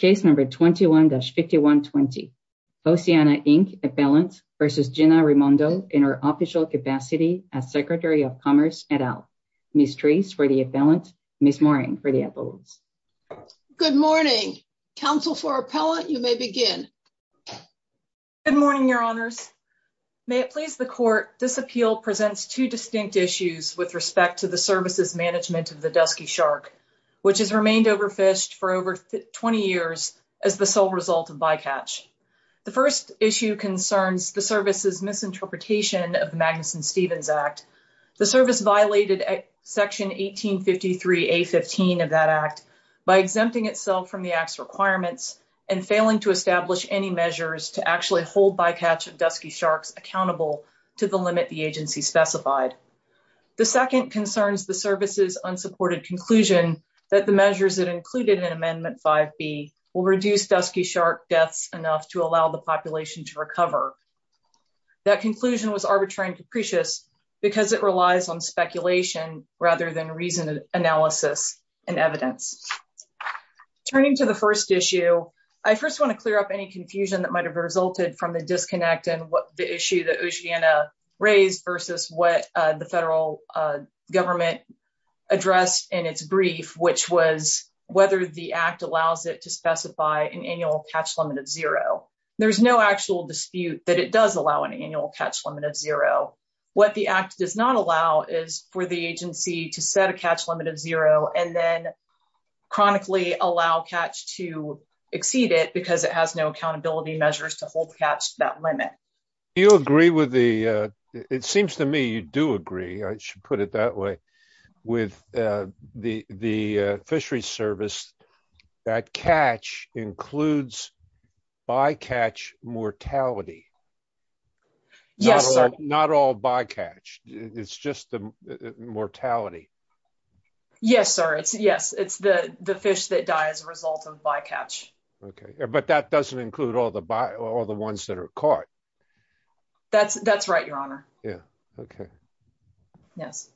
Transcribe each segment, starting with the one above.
21-5120 Oceana, Inc. Appellant v. Gina Raimondo in her official capacity as Secretary of Commerce et al. Ms. Treese for the appellant, Ms. Moring for the appellants. Good morning. Council for Appellant, you may begin. Good morning, Your Honors. May it please the Court, this appeal presents two distinct issues with respect to the services management of the Dusky Shark, which has remained overfished for over 20 years as the sole result of bycatch. The first issue concerns the service's misinterpretation of the Magnuson-Stevens Act. The service violated Section 1853 A-15 of that Act by exempting itself from the Act's requirements and failing to establish any measures to actually hold bycatch of Dusky Sharks accountable to the limit the agency specified. The second concerns the service's unsupported conclusion that the measures that included in Amendment 5B will reduce Dusky Shark deaths enough to allow the population to recover. That conclusion was arbitrary and capricious because it relies on speculation rather than reasoned analysis and evidence. Turning to the first issue, I first want to clear up any confusion that might have resulted from the disconnect and the issue that Oceana raised versus what the federal government addressed in its brief, which was whether the Act allows it to specify an annual catch limit of zero. There's no actual dispute that it does allow an annual catch limit of zero. What the Act does not allow is for the agency to set a catch limit of zero and then chronically allow catch to exceed it because it has no accountability measures to hold the catch to that limit. Do you agree with the – it seems to me you do agree, I should put it that way, with the fishery service that catch includes bycatch mortality? Yes, sir. Not all bycatch. It's just the mortality. Yes, sir. Yes, it's the fish that die as a result of bycatch. Okay, but that doesn't include all the ones that are caught. That's right, Your Honor. Yeah, okay. Yes.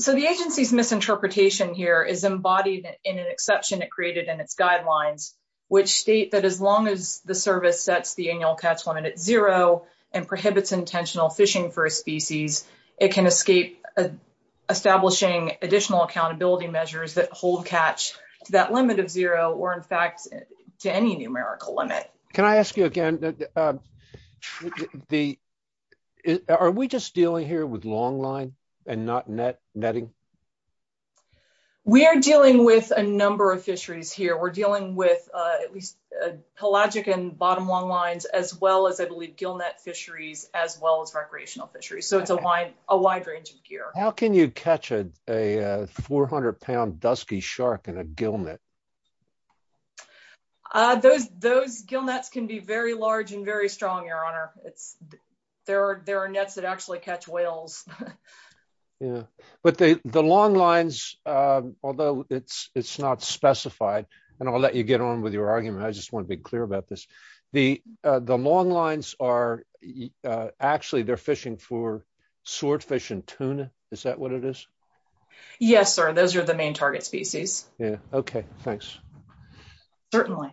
So the agency's misinterpretation here is embodied in an exception it created in its guidelines, which state that as long as the service sets the annual catch limit at zero and prohibits intentional fishing for a species, it can escape establishing additional accountability measures that hold catch to that limit of zero or, in fact, to any numerical limit. Can I ask you again, are we just dealing here with longline and not netting? We are dealing with a number of fisheries here. We're dealing with at least pelagic and bottom longlines as well as, I believe, gillnet fisheries as well as recreational fisheries. So it's a wide range of gear. How can you catch a 400-pound dusky shark in a gillnet? Those gillnets can be very large and very strong, Your Honor. There are nets that actually catch whales. Yeah, but the longlines, although it's not specified, and I'll let you get on with your argument. I just want to be clear about this. The longlines are actually they're fishing for swordfish and tuna. Is that what it is? Yes, sir. Those are the main target species. OK, thanks. Certainly.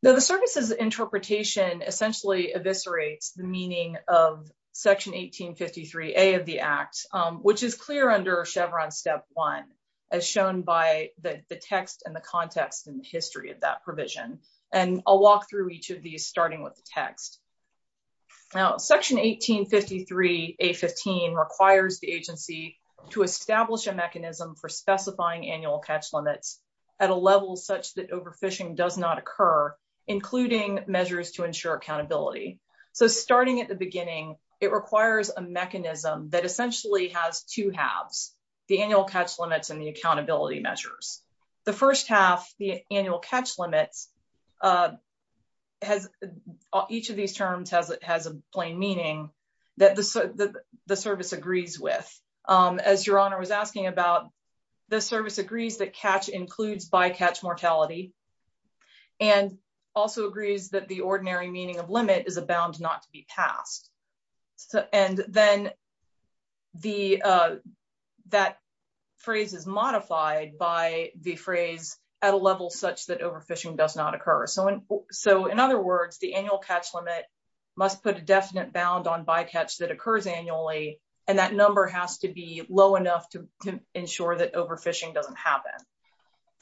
The service's interpretation essentially eviscerates the meaning of Section 1853A of the Act, which is clear under Chevron Step 1, as shown by the text and the context and history of that provision. And I'll walk through each of these, starting with the text. Now, Section 1853A15 requires the agency to establish a mechanism for specifying annual catch limits at a level such that overfishing does not occur, including measures to ensure accountability. So starting at the beginning, it requires a mechanism that essentially has two halves, the annual catch limits and the accountability measures. The first half, the annual catch limits, each of these terms has a plain meaning that the service agrees with. As Your Honor was asking about, the service agrees that catch includes bycatch mortality and also agrees that the ordinary meaning of limit is abound not to be passed. And then that phrase is modified by the phrase at a level such that overfishing does not occur. So in other words, the annual catch limit must put a definite bound on bycatch that occurs annually, and that number has to be low enough to ensure that overfishing doesn't happen.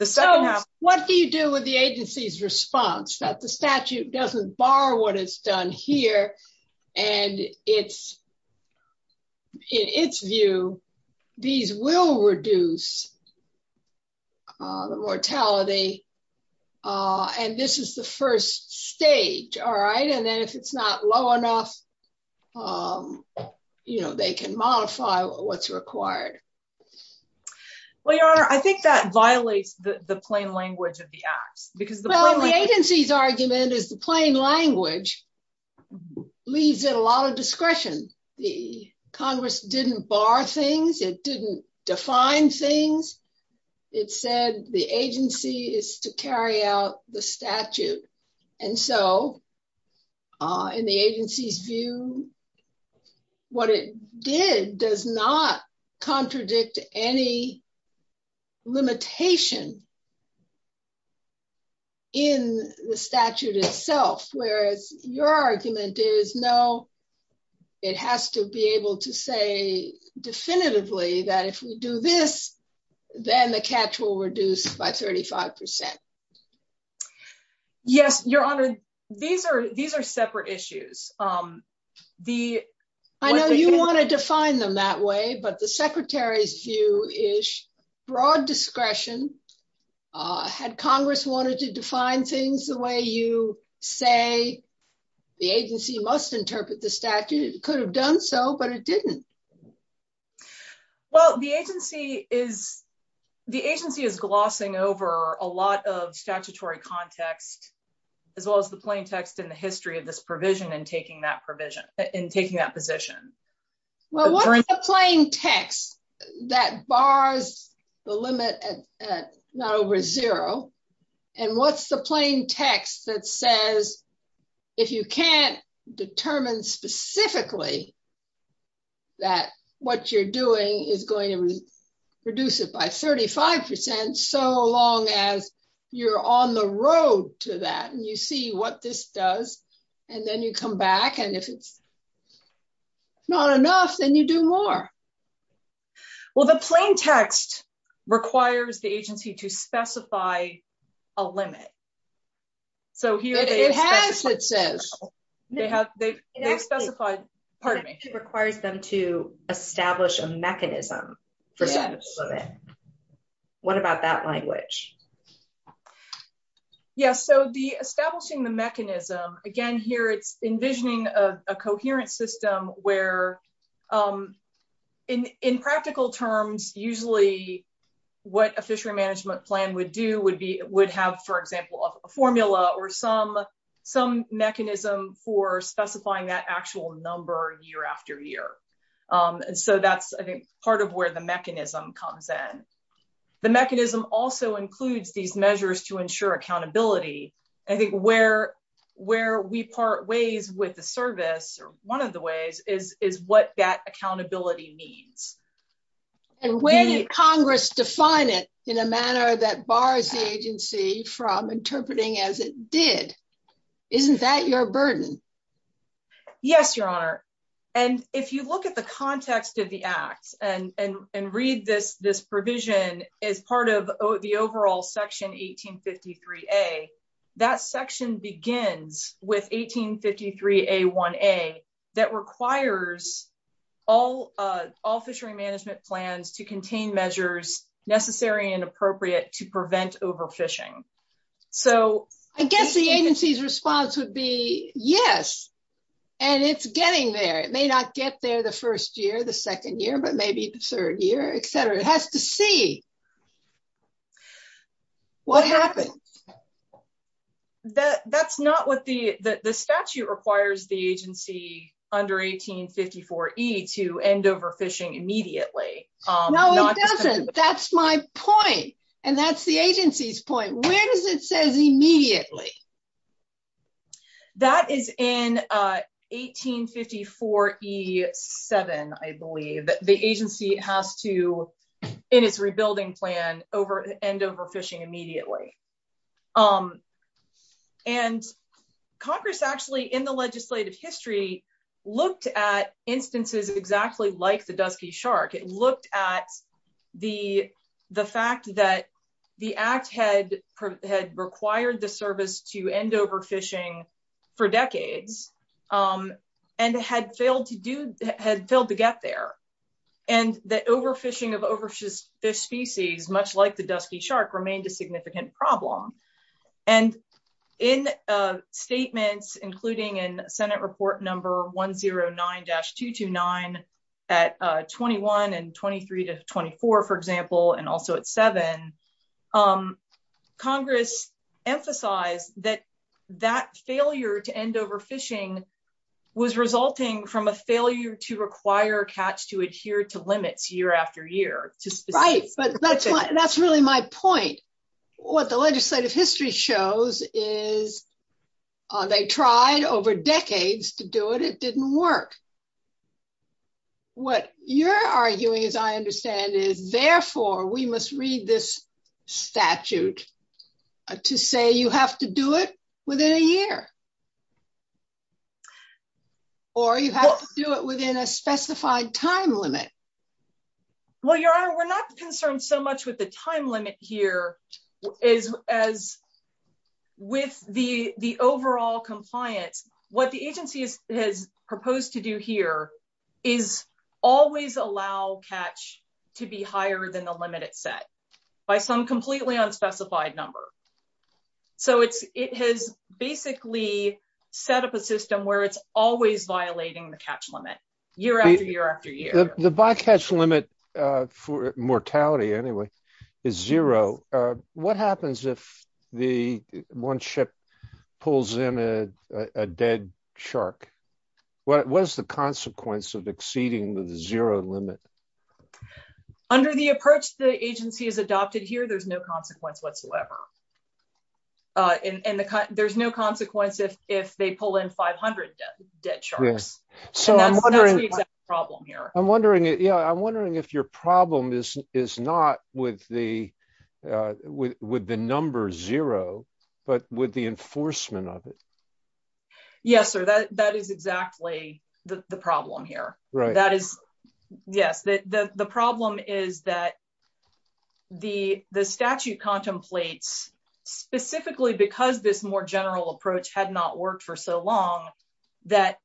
So what do you do with the agency's response that the statute doesn't bar what it's done here? And it's in its view, these will reduce the mortality. And this is the first stage. All right. And then if it's not low enough, you know, they can modify what's required. Well, Your Honor, I think that violates the plain language of the acts because the agency's argument is the plain language leaves it a lot of discretion. The Congress didn't bar things. It didn't define things. It said the agency is to carry out the statute. And so in the agency's view, what it did does not contradict any limitation in the statute itself, whereas your argument is no, it has to be able to say definitively that if we do this, then the catch will reduce by 35 percent. Yes, Your Honor. These are these are separate issues. I know you want to define them that way, but the secretary's view is broad discretion. Had Congress wanted to define things the way you say the agency must interpret the statute, it could have done so, but it didn't. Well, the agency is the agency is glossing over a lot of statutory context, as well as the plain text in the history of this provision and taking that provision in taking that position. Well, what's the plain text that bars the limit at not over zero. And what's the plain text that says, if you can't determine specifically that what you're doing is going to reduce it by 35 percent so long as you're on the road to that and you see what this does. And then you come back and if it's not enough, then you do more. Well, the plain text requires the agency to specify a limit. So here it has, it says, they have they specified, pardon me, requires them to establish a mechanism for. What about that language. Yes. So the establishing the mechanism again here, it's envisioning a coherent system where in practical terms, usually what a fishery management plan would do would be would have, for example, a formula or some some mechanism for specifying that actual number year after year. And so that's part of where the mechanism comes in. The mechanism also includes these measures to ensure accountability. I think where, where we part ways with the service, or one of the ways is is what that accountability needs. And when Congress define it in a manner that bars the agency from interpreting as it did. Isn't that your burden. Yes, Your Honor. And if you look at the context of the act and and and read this this provision is part of the overall section 1853 a that section begins with 1853 a one a that requires all all fishery management plans to contain measures necessary and appropriate to prevent overfishing. So, I guess the agency's response would be, yes. And it's getting there, it may not get there the first year the second year but maybe the third year, etc. It has to see what happened. That that's not what the, the statute requires the agency under 1854 he to end overfishing immediately. That's my point. And that's the agency's point where does it says immediately. That is in 1854 he seven, I believe that the agency has to in its rebuilding plan over end overfishing immediately. Um, and Congress actually in the legislative history, looked at instances exactly like the dusky shark it looked at the, the fact that the act had had required the service to end overfishing for decades. And had failed to do had failed to get there. And the overfishing of overfish species, much like the dusky shark remained a significant problem. And in statements, including in Senate report number 109 dash 229 at 21 and 23 to 24, for example, and also at seven Congress emphasize that that failure to end overfishing was resulting from a failure to require catch to adhere to limits year after year to Right, but that's, that's really my point. What the legislative history shows is they tried over decades to do it, it didn't work. What you're arguing is I understand is therefore we must read this statute to say you have to do it within a year. Or you have to do it within a specified time limit. Well, Your Honor, we're not concerned so much with the time limit here is as with the the overall compliance, what the agency is has proposed to do here is always allow catch to be higher than the limited set by some completely unspecified number. So it's, it has basically set up a system where it's always violating the catch limit year after year after year, the bycatch limit for mortality. Anyway, is zero. What happens if the one ship pulls in a dead shark. What was the consequence of exceeding the zero limit. Under the approach, the agency is adopted here, there's no consequence whatsoever. And there's no consequence if if they pull in 500 dead sharks. So I'm wondering, problem here. I'm wondering, you know, I'm wondering if your problem is, is not with the with with the number zero, but with the enforcement of it. Yes, sir. That is exactly the problem here. That is, yes, the problem is that the statute contemplates specifically because this more general approach had not worked for so long that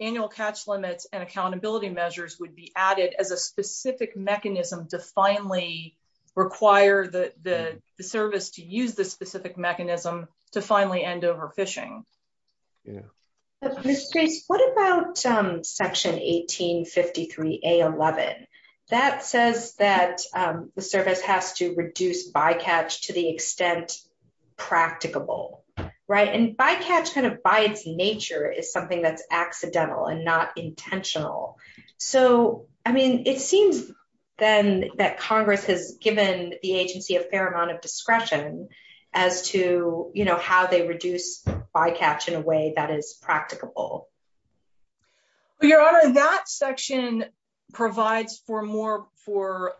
annual catch limits and accountability measures would be added as a specific mechanism to finally require the service to use this specific mechanism to finally end overfishing. What about section 1853 a 11 that says that the service has to reduce bycatch to the extent practicable right and bycatch kind of by its nature is something that's accidental and not intentional. So, I mean, it seems, then, that Congress has given the agency a fair amount of discretion as to, you know, how they reduce bycatch in a way that is practicable. Your Honor, that section provides for more for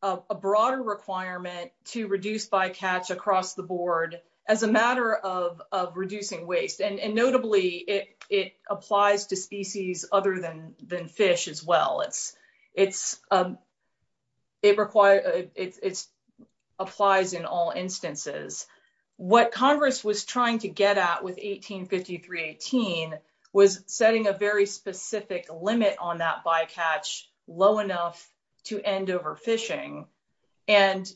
a broader requirement to reduce bycatch across the board as a matter of reducing waste and notably it it applies to species other than than fish as well. It's it's it requires it's applies in all instances. What Congress was trying to get at with 1853 18 was setting a very specific limit on that bycatch low enough to end overfishing and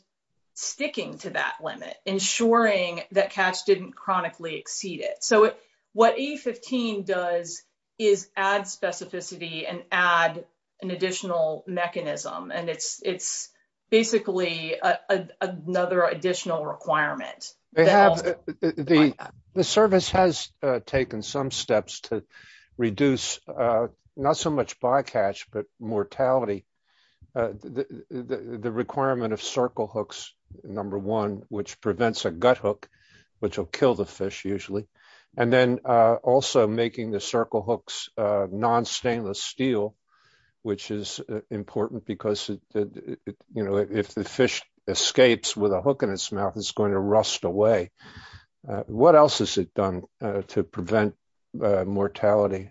sticking to that limit ensuring that catch didn't chronically exceed it. So, what he 15 does is add specificity and add an additional mechanism and it's it's basically another additional requirement. The service has taken some steps to reduce, not so much bycatch but mortality. The requirement of circle hooks. Number one, which prevents a gut hook, which will kill the fish usually and then also making the circle hooks non stainless steel, which is important because, you know, if the fish escapes with a hook in his mouth is going to rust away. What else has it done to prevent mortality.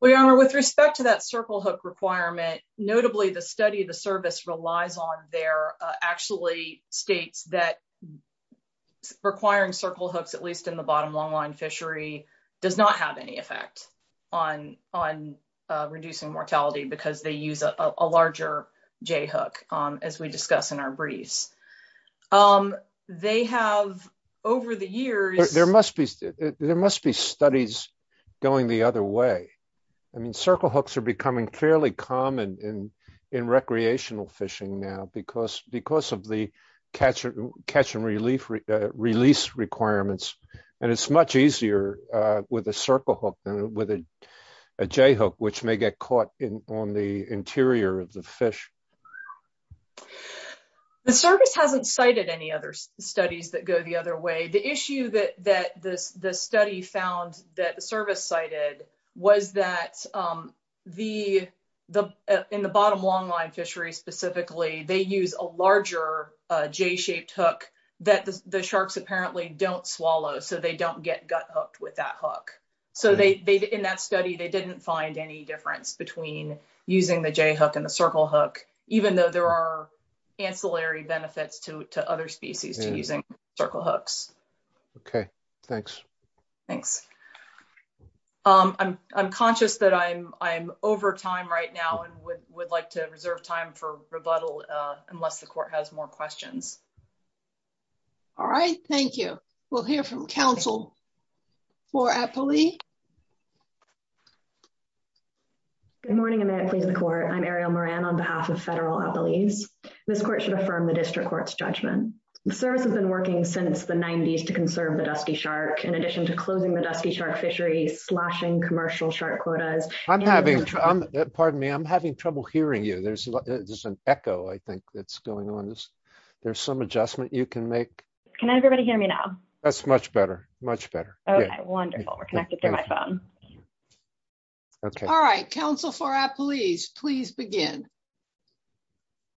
We are with respect to that circle hook requirement, notably the study the service relies on their actually states that requiring circle hooks at least in the bottom long line fishery does not have any effect on on reducing mortality because they use a larger J hook on as we discuss in our briefs. They have over the years, there must be, there must be studies going the other way. I mean circle hooks are becoming fairly common in in recreational fishing now because because of the catcher catch and relief release requirements, and it's much easier with a circle hook with a J hook which may get caught in on the interior of the fish. The service hasn't cited any other studies that go the other way. The issue that that this the study found that the service cited was that the, the, in the bottom long line fishery specifically they use a larger J shaped hook that the sharks apparently don't swallow so they don't get gut hooked with that hook. So they in that study they didn't find any difference between using the J hook and the circle hook, even though there are ancillary benefits to other species to using circle hooks. Okay, thanks. Thanks. I'm conscious that I'm, I'm over time right now and would like to reserve time for rebuttal, unless the court has more questions. All right, thank you. We'll hear from Council for Appley. Good morning, I'm at the court I'm Ariel Moran on behalf of federal employees. This court should affirm the district courts judgment service has been working since the 90s to conserve the dusky shark in addition to closing the dusky shark fishery slashing commercial shark quotas. Pardon me I'm having trouble hearing you there's an echo I think that's going on this. There's some adjustment you can make. Can everybody hear me now. That's much better, much better. Wonderful. We're connected to my phone. All right, Council for Appley's please begin.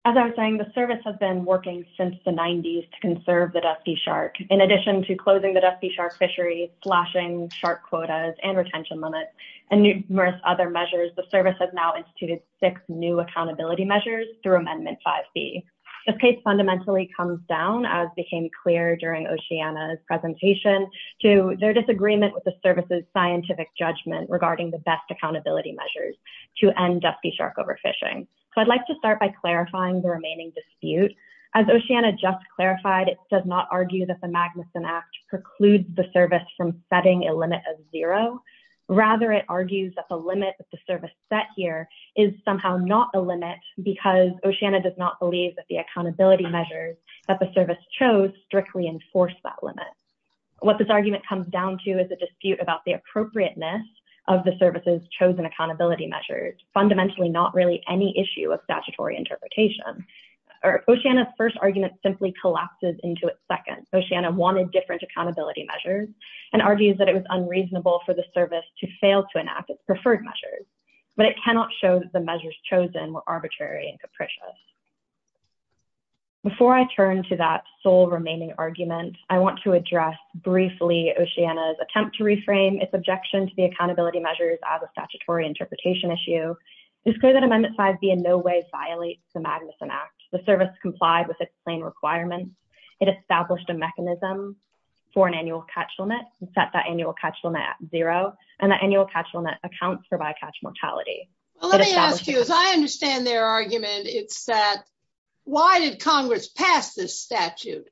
As I was saying, the service has been working since the 90s to conserve the dusky shark in addition to closing the dusky shark fishery slashing shark quotas and retention limits and numerous other measures the service has now instituted six new accountability measures through Amendment 5b. The case fundamentally comes down as became clear during Oceana's presentation to their disagreement with the services scientific judgment regarding the best accountability measures to end up the shark overfishing. So I'd like to start by clarifying the remaining dispute as Oceana just clarified it does not argue that the Magnuson Act precludes the service from setting a limit of zero. Rather it argues that the limit that the service set here is somehow not a limit because Oceana does not believe that the accountability measures that the service chose strictly enforce that limit. What this argument comes down to is a dispute about the appropriateness of the services chosen accountability measures fundamentally not really any issue of statutory interpretation. Oceana's first argument simply collapses into its second. Oceana wanted different accountability measures and argues that it was unreasonable for the service to fail to enact its preferred measures, but it cannot show that the measures chosen were arbitrary and capricious. Before I turn to that sole remaining argument, I want to address briefly Oceana's attempt to reframe its objection to the accountability measures as a statutory interpretation issue. It's clear that Amendment 5b in no way violates the Magnuson Act. The service complied with its plain requirements. It established a mechanism for an annual catch limit and set that annual catch limit at zero and the annual catch limit accounts for bycatch mortality. Let me ask you, as I understand their argument, it's that, why did Congress pass this statute?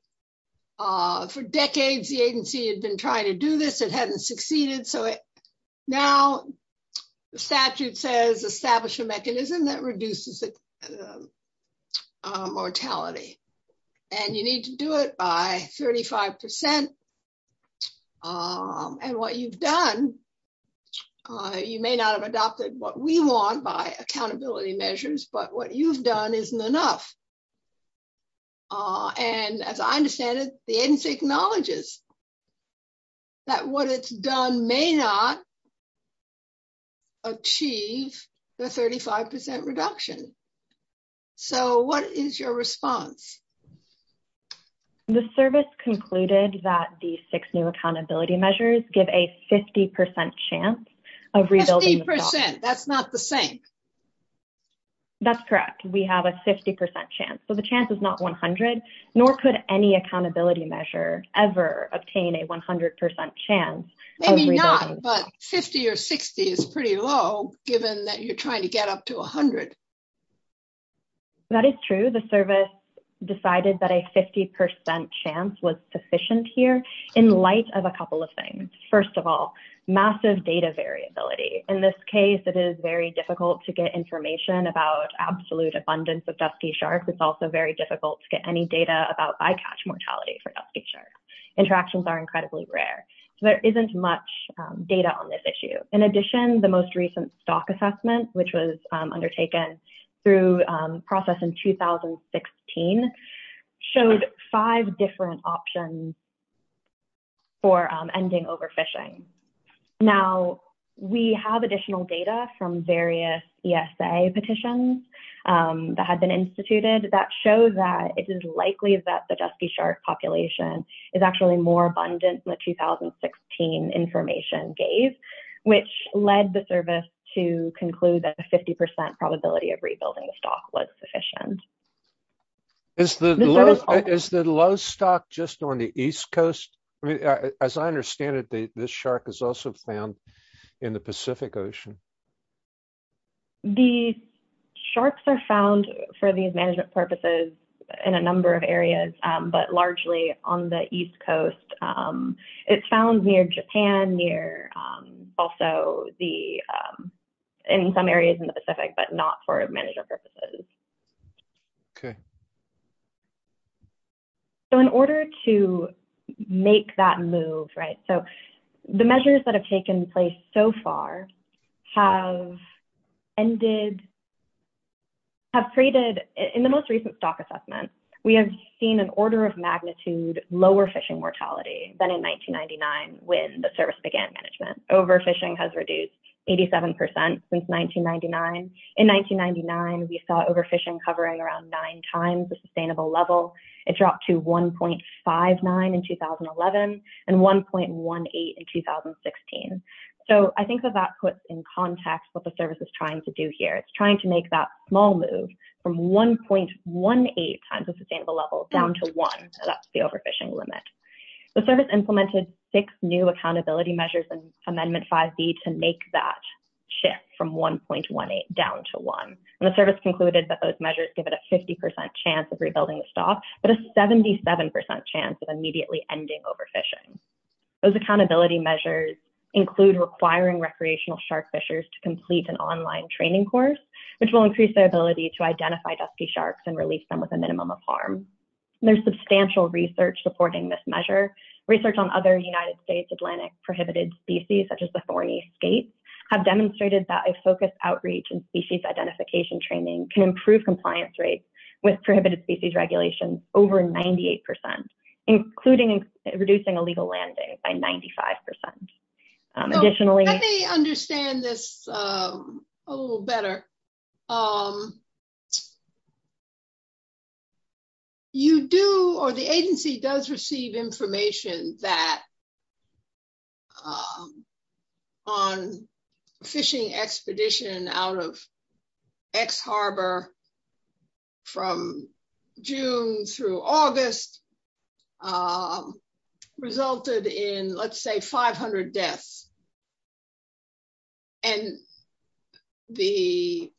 For decades, the agency had been trying to do this, it hadn't succeeded, so now the statute says establish a mechanism that reduces mortality. And you need to do it by 35%. And what you've done. You may not have adopted what we want by accountability measures, but what you've done isn't enough. And as I understand it, the agency acknowledges that what it's done may not achieve the 35% reduction. So what is your response? The service concluded that the six new accountability measures give a 50% chance of rebuilding. 50%, that's not the same. That's correct. We have a 50% chance. So the chance is not 100, nor could any accountability measure ever obtain a 100% chance. Maybe not, but 50 or 60 is pretty low, given that you're trying to get up to 100. That is true. The service decided that a 50% chance was sufficient here, in light of a couple of things. First of all, massive data variability. In this case, it is very difficult to get information about absolute abundance of dusky sharks. It's also very difficult to get any data about bycatch mortality for dusky sharks. Interactions are incredibly rare. So there isn't much data on this issue. In addition, the most recent stock assessment, which was undertaken through process in 2016, showed five different options for ending overfishing. Now, we have additional data from various ESA petitions that had been instituted that shows that it is likely that the dusky shark population is actually more abundant than the 2016 information gave. Which led the service to conclude that a 50% probability of rebuilding the stock was sufficient. Is the low stock just on the East Coast? As I understand it, this shark is also found in the Pacific Ocean. The sharks are found, for these management purposes, in a number of areas, but largely on the East Coast. It's found near Japan, in some areas in the Pacific, but not for management purposes. In order to make that move, the measures that have taken place so far have created, in the most recent stock assessment, we have seen an order of magnitude lower fishing mortality than in 1999 when the service began management. Overfishing has reduced 87% since 1999. In 1999, we saw overfishing covering around nine times the sustainable level. It dropped to 1.59 in 2011 and 1.18 in 2016. So I think that that puts in context what the service is trying to do here. It's trying to make that small move from 1.18 times the sustainable level down to one. That's the overfishing limit. The service implemented six new accountability measures in Amendment 5B to make that shift from 1.18 down to one. The service concluded that those measures give it a 50% chance of rebuilding the stock, but a 77% chance of immediately ending overfishing. Those accountability measures include requiring recreational shark fishers to complete an online training course, which will increase their ability to identify dusky sharks and release them with a minimum of harm. There's substantial research supporting this measure. Research on other United States Atlantic prohibited species, such as the Fournese Skates, have demonstrated that a focused outreach and species identification training can improve compliance rates with prohibited species regulations over 98%, including reducing illegal land days by 95%. Additionally... Let me understand this a little better. You do or the agency does receive information that on fishing expedition out of X Harbor from June through August resulted in, let's say, 500 deaths. And the...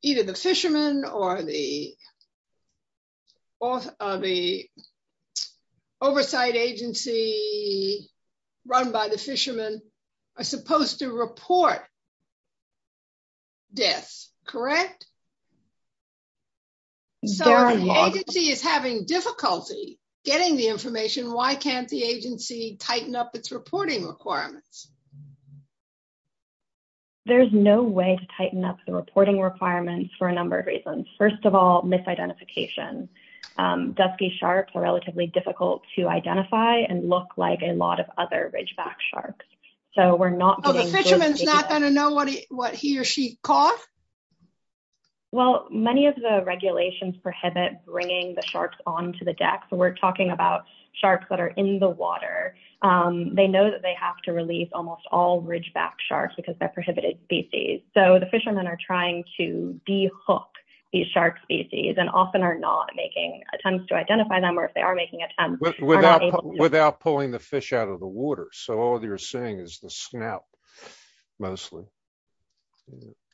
Either the fishermen or the oversight agency run by the fishermen are supposed to report deaths, correct? So if the agency is having difficulty getting the information, why can't the agency tighten up its reporting requirements? There's no way to tighten up the reporting requirements for a number of reasons. First of all, misidentification. Dusky sharks are relatively difficult to identify and look like a lot of other ridgeback sharks. So we're not... Oh, the fisherman's not going to know what he or she caught? Well, many of the regulations prohibit bringing the sharks onto the deck. So we're talking about sharks that are in the water. They know that they have to release almost all ridgeback sharks because they're prohibited species. So the fishermen are trying to de-hook these shark species and often are not making attempts to identify them, or if they are making attempts... Without pulling the fish out of the water. So all you're seeing is the snout, mostly.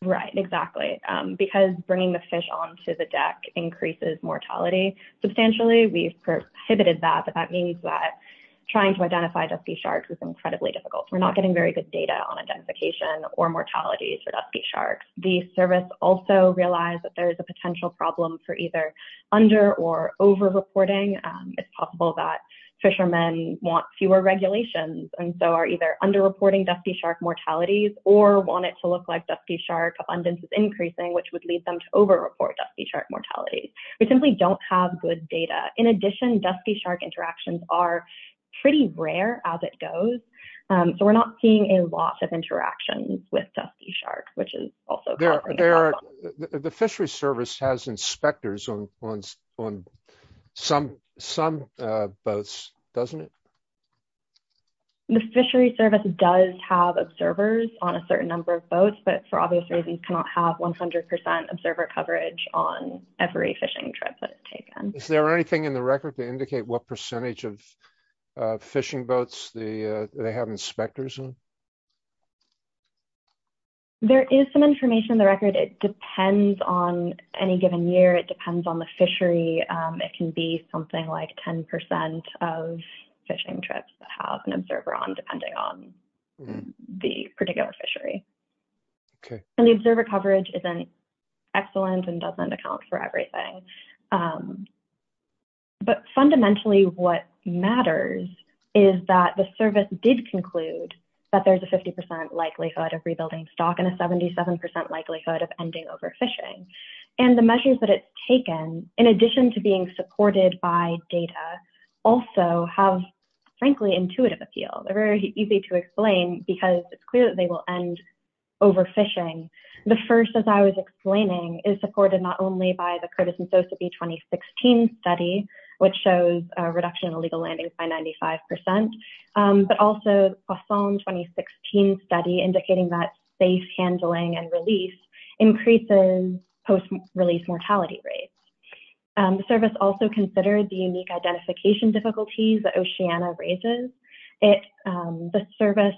Right, exactly. Because bringing the fish onto the deck increases mortality substantially, we've prohibited that. But that means that trying to identify dusky sharks is incredibly difficult. We're not getting very good data on identification or mortality for dusky sharks. The service also realized that there is a potential problem for either under or over-reporting. It's possible that fishermen want fewer regulations and so are either under-reporting dusky shark mortalities or want it to look like dusky shark abundance is increasing, which would lead them to over-report dusky shark mortality. We simply don't have good data. In addition, dusky shark interactions are pretty rare as it goes. So we're not seeing a lot of interactions with dusky sharks, which is also causing... The Fishery Service has inspectors on some boats, doesn't it? The Fishery Service does have observers on a certain number of boats, but for obvious reasons cannot have 100% observer coverage on every fishing trip that is taken. Is there anything in the record to indicate what percentage of fishing boats they have inspectors on? There is some information in the record. It depends on any given year. It depends on the fishery. It can be something like 10% of fishing trips that have an observer on depending on the particular fishery. And the observer coverage isn't excellent and doesn't account for everything. But fundamentally, what matters is that the service did conclude that there's a 50% likelihood of rebuilding stock and a 77% likelihood of ending overfishing. And the measures that it's taken, in addition to being supported by data, also have, frankly, intuitive appeal. They're very easy to explain because it's clear that they will end overfishing. The first, as I was explaining, is supported not only by the Curtis and Sosebee 2016 study, which shows a reduction in illegal landings by 95%, but also the Poisson 2016 study indicating that safe handling and release increases post-release mortality rates. The service also considered the unique identification difficulties that Oceana raises. The service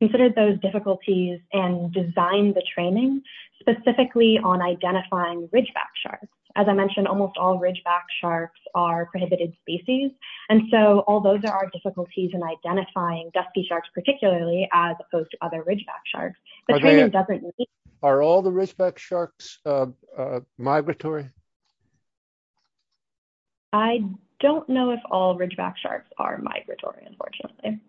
considered those difficulties and designed the training specifically on identifying ridgeback sharks. As I mentioned, almost all ridgeback sharks are prohibited species. And so all those are our difficulties in identifying dusky sharks, particularly as opposed to other ridgeback sharks. Are all the ridgeback sharks migratory? I don't know if all ridgeback sharks are migratory, unfortunately.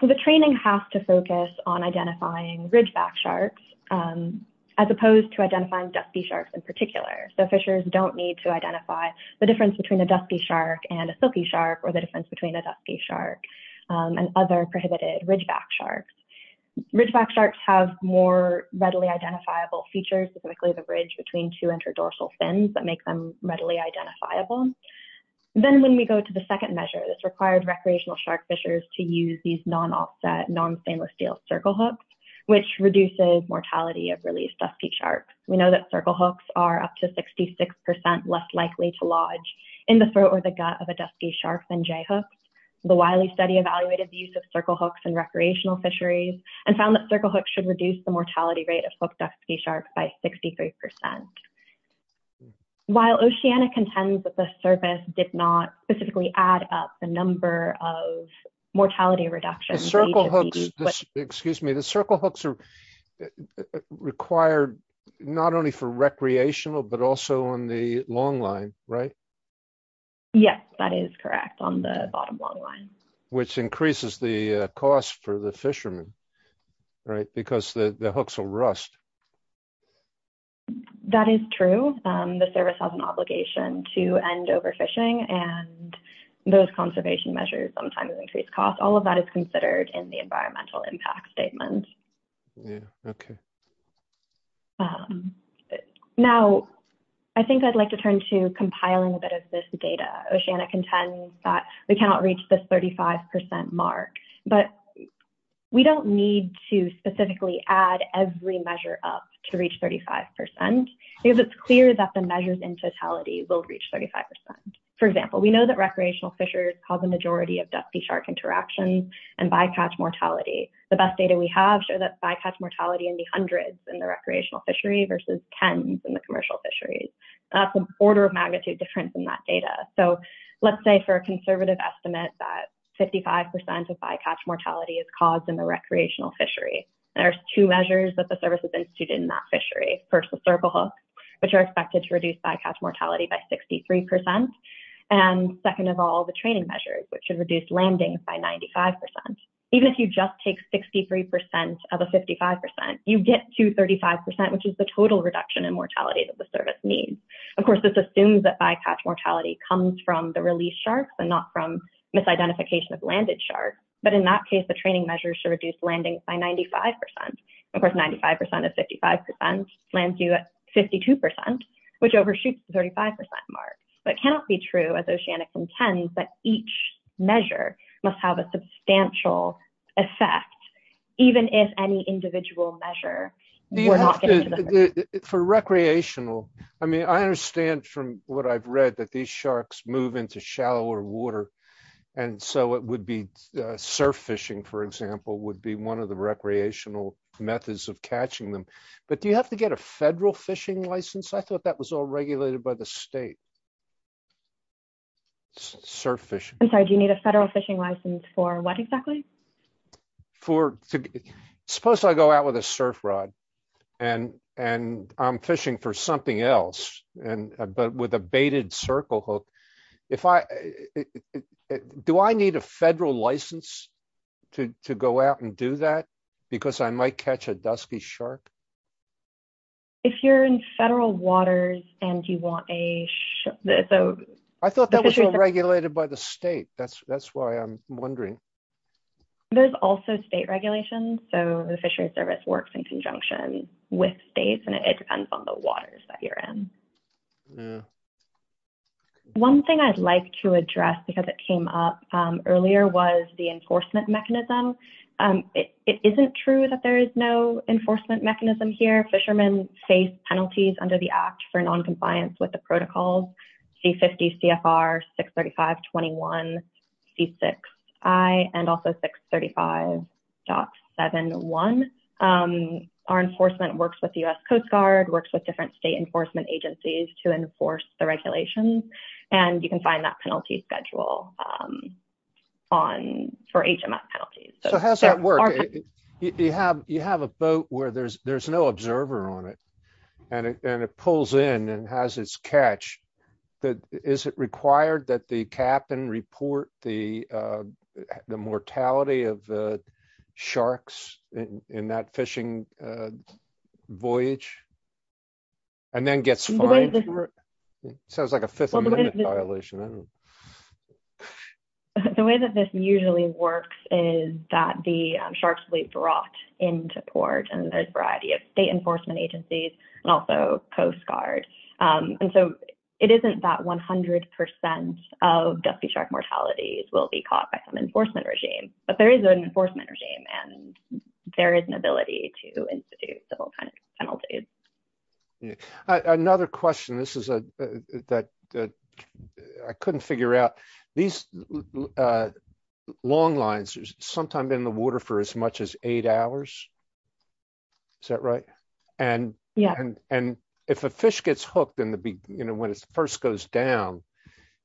So the training has to focus on identifying ridgeback sharks as opposed to identifying dusky sharks in particular. So fishers don't need to identify the difference between a dusky shark and a silky shark or the difference between a dusky shark and other prohibited ridgeback sharks. Ridgeback sharks have more readily identifiable features, specifically the bridge between two interdorsal fins that make them readily identifiable. Then when we go to the second measure, this required recreational shark fishers to use these non-offset, non-stainless steel circle hooks, which reduces mortality of released dusky sharks. We know that circle hooks are up to 66% less likely to lodge in the throat or the gut of a dusky shark than J-hooks. The Wiley study evaluated the use of circle hooks in recreational fisheries and found that circle hooks should reduce the mortality rate of hooked dusky sharks by 63%. While Oceana contends that the surface did not specifically add up the number of mortality reductions. The circle hooks are required not only for recreational, but also on the long line, right? Yes, that is correct on the bottom long line. Which increases the cost for the fishermen, right? Because the hooks will rust. That is true. The service has an obligation to end overfishing and those conservation measures sometimes increase costs. All of that is considered in the environmental impact statement. Yeah, okay. Now, I think I'd like to turn to compiling a bit of this data. Oceana contends that we cannot reach this 35% mark, but we don't need to specifically add every measure up to reach 35%. Because it's clear that the measures in totality will reach 35%. For example, we know that recreational fisheries cause a majority of dusky shark interactions and bycatch mortality. The best data we have show that bycatch mortality in the hundreds in the recreational fishery versus tens in the commercial fisheries. That's an order of magnitude difference in that data. So, let's say for a conservative estimate that 55% of bycatch mortality is caused in the recreational fishery. There's two measures that the service has instituted in that fishery. First, the circle hook, which are expected to reduce bycatch mortality by 63%. And second of all, the training measures, which should reduce landings by 95%. Even if you just take 63% of a 55%, you get to 35%, which is the total reduction in mortality that the service needs. Of course, this assumes that bycatch mortality comes from the release sharks and not from misidentification of landed sharks. But in that case, the training measures should reduce landings by 95%. Of course, 95% of 55% lands you at 52%, which overshoots the 35% mark. But it cannot be true, as Oceanics intends, that each measure must have a substantial effect, even if any individual measure were not given to the service. For recreational, I mean, I understand from what I've read that these sharks move into shallower water. And so it would be surf fishing, for example, would be one of the recreational methods of catching them. But do you have to get a federal fishing license? I thought that was all regulated by the state. Surf fishing. I'm sorry, do you need a federal fishing license for what exactly? Supposed I go out with a surf rod and I'm fishing for something else, but with a baited circle hook. Do I need a federal license to go out and do that? Because I might catch a dusky shark? If you're in federal waters and you want a... I thought that was all regulated by the state. That's why I'm wondering. There's also state regulations. So the Fisheries Service works in conjunction with states and it depends on the waters that you're in. One thing I'd like to address, because it came up earlier, was the enforcement mechanism. It isn't true that there is no enforcement mechanism here. Fishermen face penalties under the Act for non-compliance with the protocols. C-50, CFR, 635.21, C-6I, and also 635.71. Our enforcement works with the U.S. Coast Guard, works with different state enforcement agencies to enforce the regulations. And you can find that penalty schedule for HMS penalties. So how does that work? You have a boat where there's no observer on it and it pulls in and has its catch. Is it required that the captain report the mortality of the sharks in that fishing voyage? And then gets fined for it? Sounds like a Fifth Amendment violation. The way that this usually works is that the sharks will be brought into port and there's a variety of state enforcement agencies and also Coast Guard. And so it isn't that 100% of dusky shark mortalities will be caught by some enforcement regime. But there is an enforcement regime and there is an ability to institute civil penalties. Another question that I couldn't figure out. These long lines are sometimes in the water for as much as eight hours. Is that right? And if a fish gets hooked when it first goes down,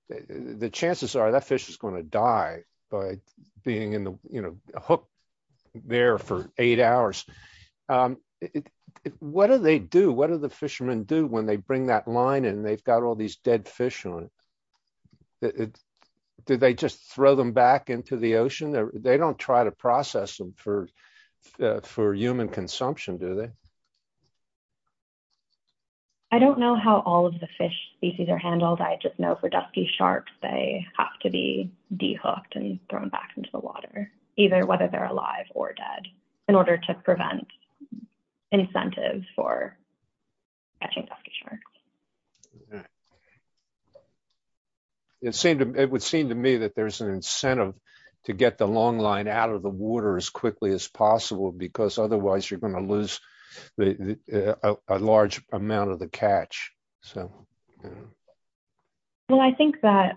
the chances are that fish is going to die by being hooked there for eight hours. What do they do? What do the fishermen do when they bring that line and they've got all these dead fish on it? Do they just throw them back into the ocean? They don't try to process them for human consumption, do they? I don't know how all of the fish species are handled. I just know for dusky sharks, they have to be de-hooked and thrown back into the water, either whether they're alive or dead. In order to prevent incentives for catching dusky sharks. It would seem to me that there's an incentive to get the long line out of the water as quickly as possible because otherwise you're going to lose a large amount of the catch. Well, I think that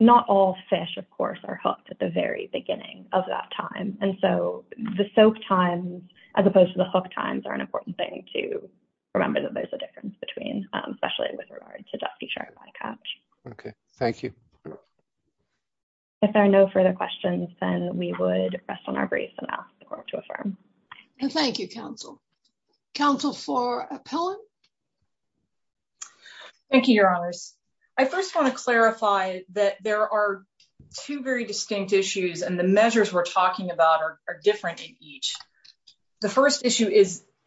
not all fish, of course, are hooked at the very beginning of that time. And so the soak times, as opposed to the hook times, are an important thing to remember that there's a difference between, especially with regard to dusky shark bycatch. OK, thank you. If there are no further questions, then we would rest on our brace and ask the court to affirm. Thank you, counsel. Counsel for Appellant? Thank you, Your Honors. I first want to clarify that there are two very distinct issues and the measures we're talking about are different in each. The first issue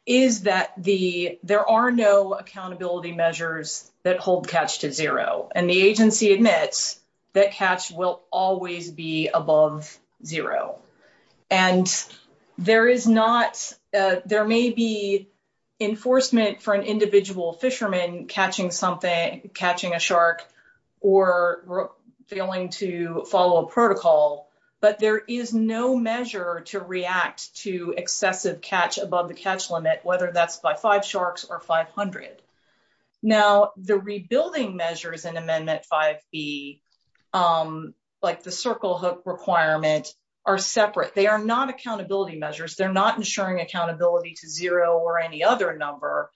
is that there are no accountability measures that hold catch to zero and the agency admits that catch will always be above zero. And there is not, there may be enforcement for an individual fisherman catching something, catching a shark or failing to follow a protocol. But there is no measure to react to excessive catch above the catch limit, whether that's by five sharks or 500. Now, the rebuilding measures in Amendment 5B, like the circle hook requirement, are separate. They are not accountability measures. They're not ensuring accountability to zero or any other number.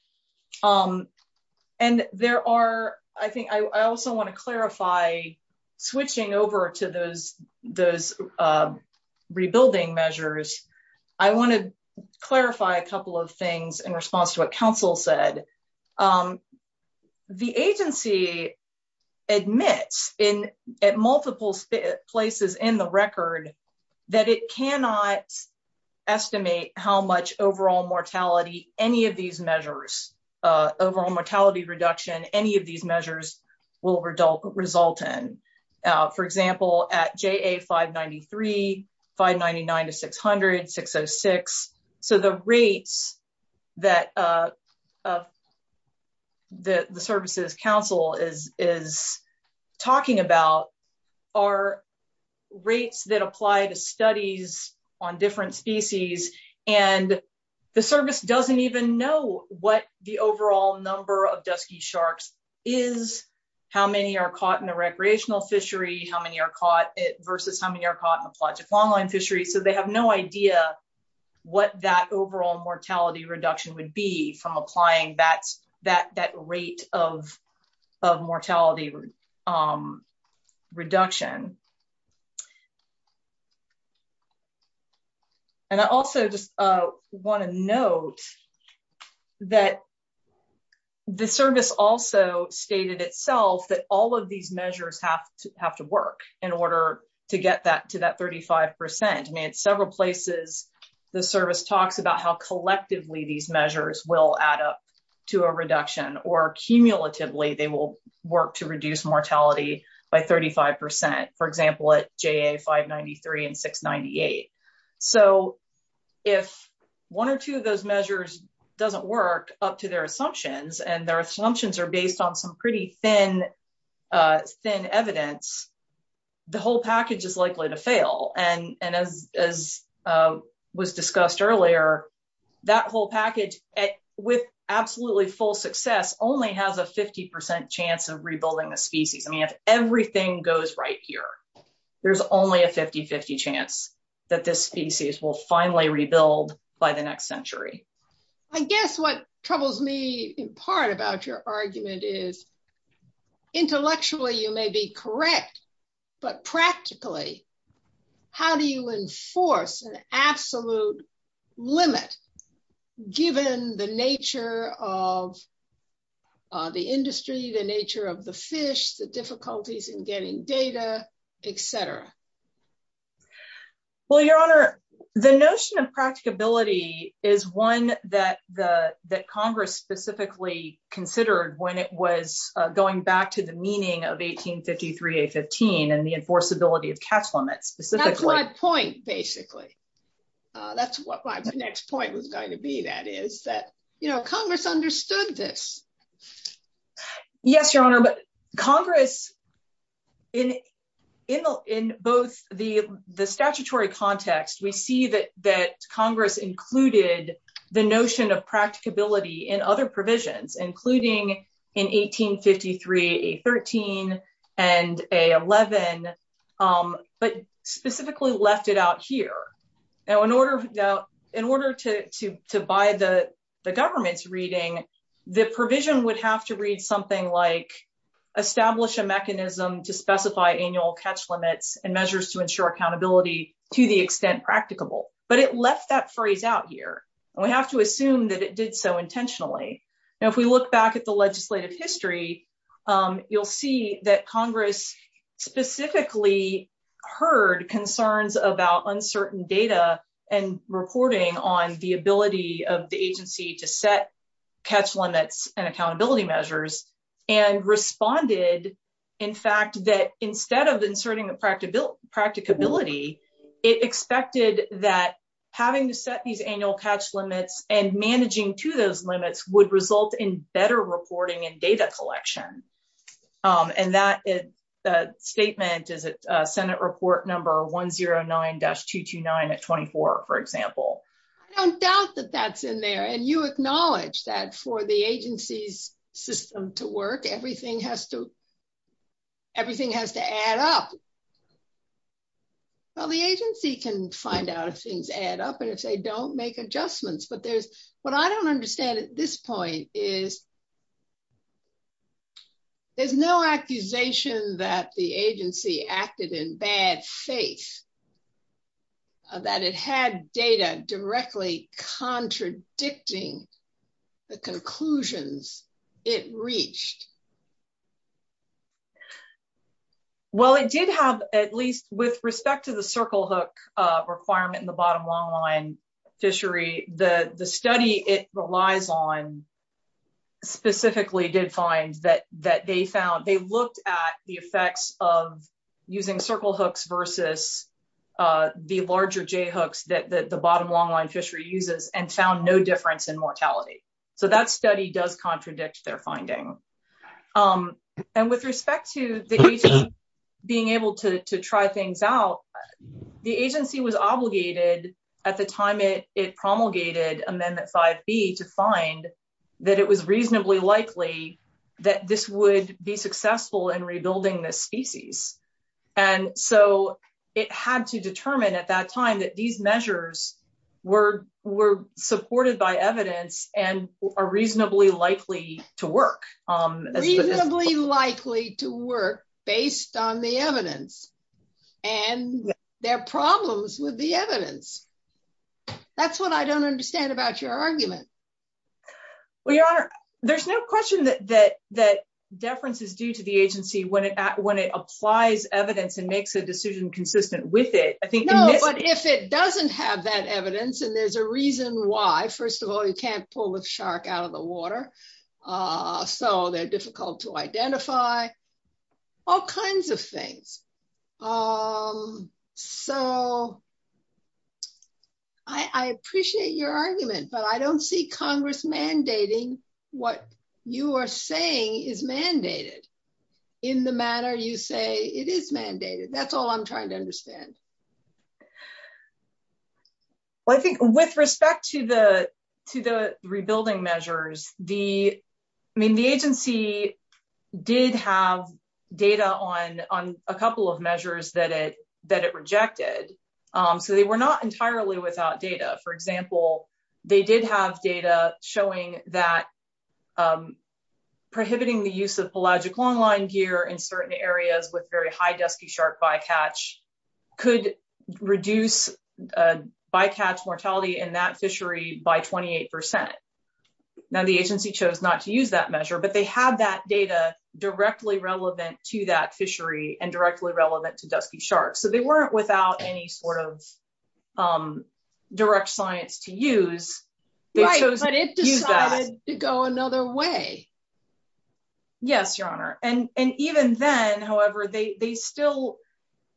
And there are, I think I also want to clarify, switching over to those rebuilding measures, I want to clarify a couple of things in response to what counsel said. The agency admits at multiple places in the record that it cannot estimate how much overall mortality any of these measures, overall mortality reduction, any of these measures will result in. For example, at JA 593, 599 to 600, 606. So the rates that the services counsel is talking about are rates that apply to studies on different species. And the service doesn't even know what the overall number of dusky sharks is, how many are caught in a recreational fishery, how many are caught versus how many are caught in a pelagic longline fishery. So they have no idea what that overall mortality reduction would be from applying that rate of mortality reduction. And I also just want to note that the service also stated itself that all of these measures have to have to work in order to get that to that 35%. And that's not true. I mean, at several places, the service talks about how collectively these measures will add up to a reduction or cumulatively they will work to reduce mortality by 35%, for example, at JA 593 and 698. So if one or two of those measures doesn't work up to their assumptions and their assumptions are based on some pretty thin evidence, the whole package is likely to fail. And as was discussed earlier, that whole package, with absolutely full success, only has a 50% chance of rebuilding the species. I mean, if everything goes right here, there's only a 50-50 chance that this species will finally rebuild by the next century. I guess what troubles me in part about your argument is intellectually you may be correct, but practically, how do you enforce an absolute limit, given the nature of the industry, the nature of the fish, the difficulties in getting data, etc. Well, Your Honor, the notion of practicability is one that Congress specifically considered when it was going back to the meaning of 1853 A15 and the enforceability of catch limits. That's my point, basically. That's what my next point was going to be, that is that, you know, Congress understood this. Yes, Your Honor, but Congress, in both the statutory context, we see that Congress included the notion of practicability in other provisions, including in 1853 A13 and A11, but specifically left it out here. Now, in order to buy the government's reading, the provision would have to read something like, establish a mechanism to specify annual catch limits and measures to ensure accountability to the extent practicable, but it left that phrase out here. We have to assume that it did so intentionally. Now, if we look back at the legislative history, you'll see that Congress specifically heard concerns about uncertain data and reporting on the ability of the agency to set catch limits and accountability measures and responded, in fact, that instead of inserting the practicability, it expected that having to set these annual catch limits and managing to those limits would result in better reporting and data collection. And that statement is at Senate Report Number 109-229 at 24, for example. I don't doubt that that's in there. And you acknowledge that for the agency's system to work, everything has to add up. Well, the agency can find out if things add up and if they don't, make adjustments. But what I don't understand at this point is, there's no accusation that the agency acted in bad faith, that it had data directly contradicting the conclusions it reached. Well, it did have, at least with respect to the circle hook requirement in the bottom longline fishery, the study it relies on specifically did find that they looked at the effects of using circle hooks versus the larger J hooks that the bottom longline fishery uses and found no difference in mortality. So that study does contradict their finding. And with respect to the agency being able to try things out, the agency was obligated at the time it promulgated Amendment 5B to find that it was reasonably likely that this would be successful in rebuilding this species. And so it had to determine at that time that these measures were supported by evidence and are reasonably likely to work. Reasonably likely to work based on the evidence and their problems with the evidence. That's what I don't understand about your argument. Well, Your Honor, there's no question that deference is due to the agency when it applies evidence and makes a decision consistent with it. No, but if it doesn't have that evidence and there's a reason why, first of all, you can't pull the shark out of the water, so they're difficult to identify, all kinds of things. So, I appreciate your argument, but I don't see Congress mandating what you are saying is mandated in the manner you say it is mandated. That's all I'm trying to understand. Well, I think with respect to the rebuilding measures, the agency did have data on a couple of measures that it rejected. So they were not entirely without data. For example, they did have data showing that prohibiting the use of pelagic longline gear in certain areas with very high dusky shark bycatch could reduce bycatch mortality in that fishery by 28%. Now the agency chose not to use that measure, but they had that data directly relevant to that fishery and directly relevant to dusky sharks. So they weren't without any sort of direct science to use. Right, but it decided to go another way. Yes, Your Honor. And even then, however, they still,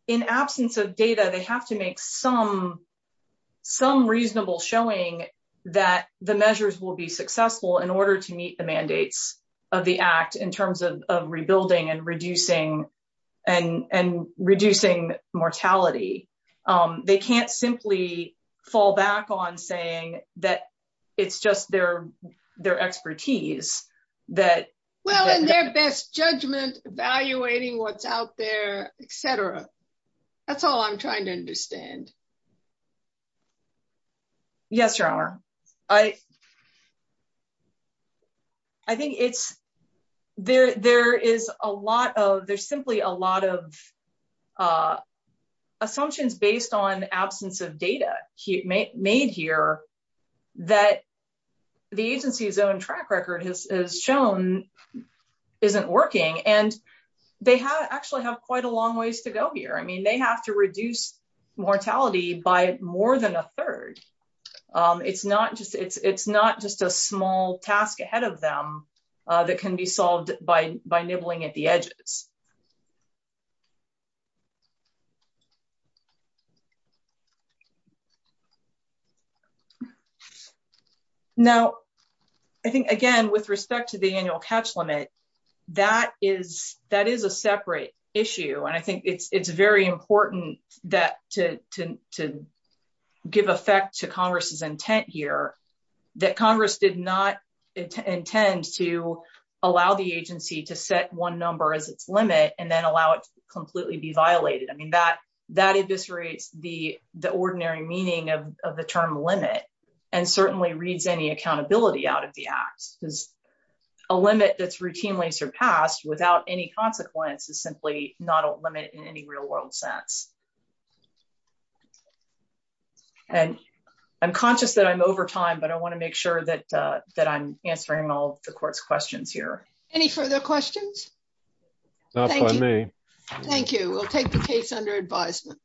in absence of data, they have to make some reasonable showing that the measures will be successful in order to meet the mandates of the Act in terms of rebuilding and reducing mortality. They can't simply fall back on saying that it's just their expertise. Well, in their best judgment, evaluating what's out there, etc. That's all I'm trying to understand. Yes, Your Honor, I think there's simply a lot of assumptions based on absence of data made here that the agency's own track record has shown isn't working. And they actually have quite a long ways to go here. I mean, they have to reduce mortality by more than a third. It's not just a small task ahead of them that can be solved by nibbling at the edges. Now, I think, again, with respect to the annual catch limit, that is a separate issue. And I think it's very important to give effect to Congress's intent here that Congress did not intend to allow the agency to set one number as its limit. And then allow it to completely be violated. I mean, that eviscerates the ordinary meaning of the term limit and certainly reads any accountability out of the Act. Because a limit that's routinely surpassed without any consequence is simply not a limit in any real-world sense. And I'm conscious that I'm over time, but I want to make sure that I'm answering all of the Court's questions here. Any further questions? Thank you. We'll take the case under advisement.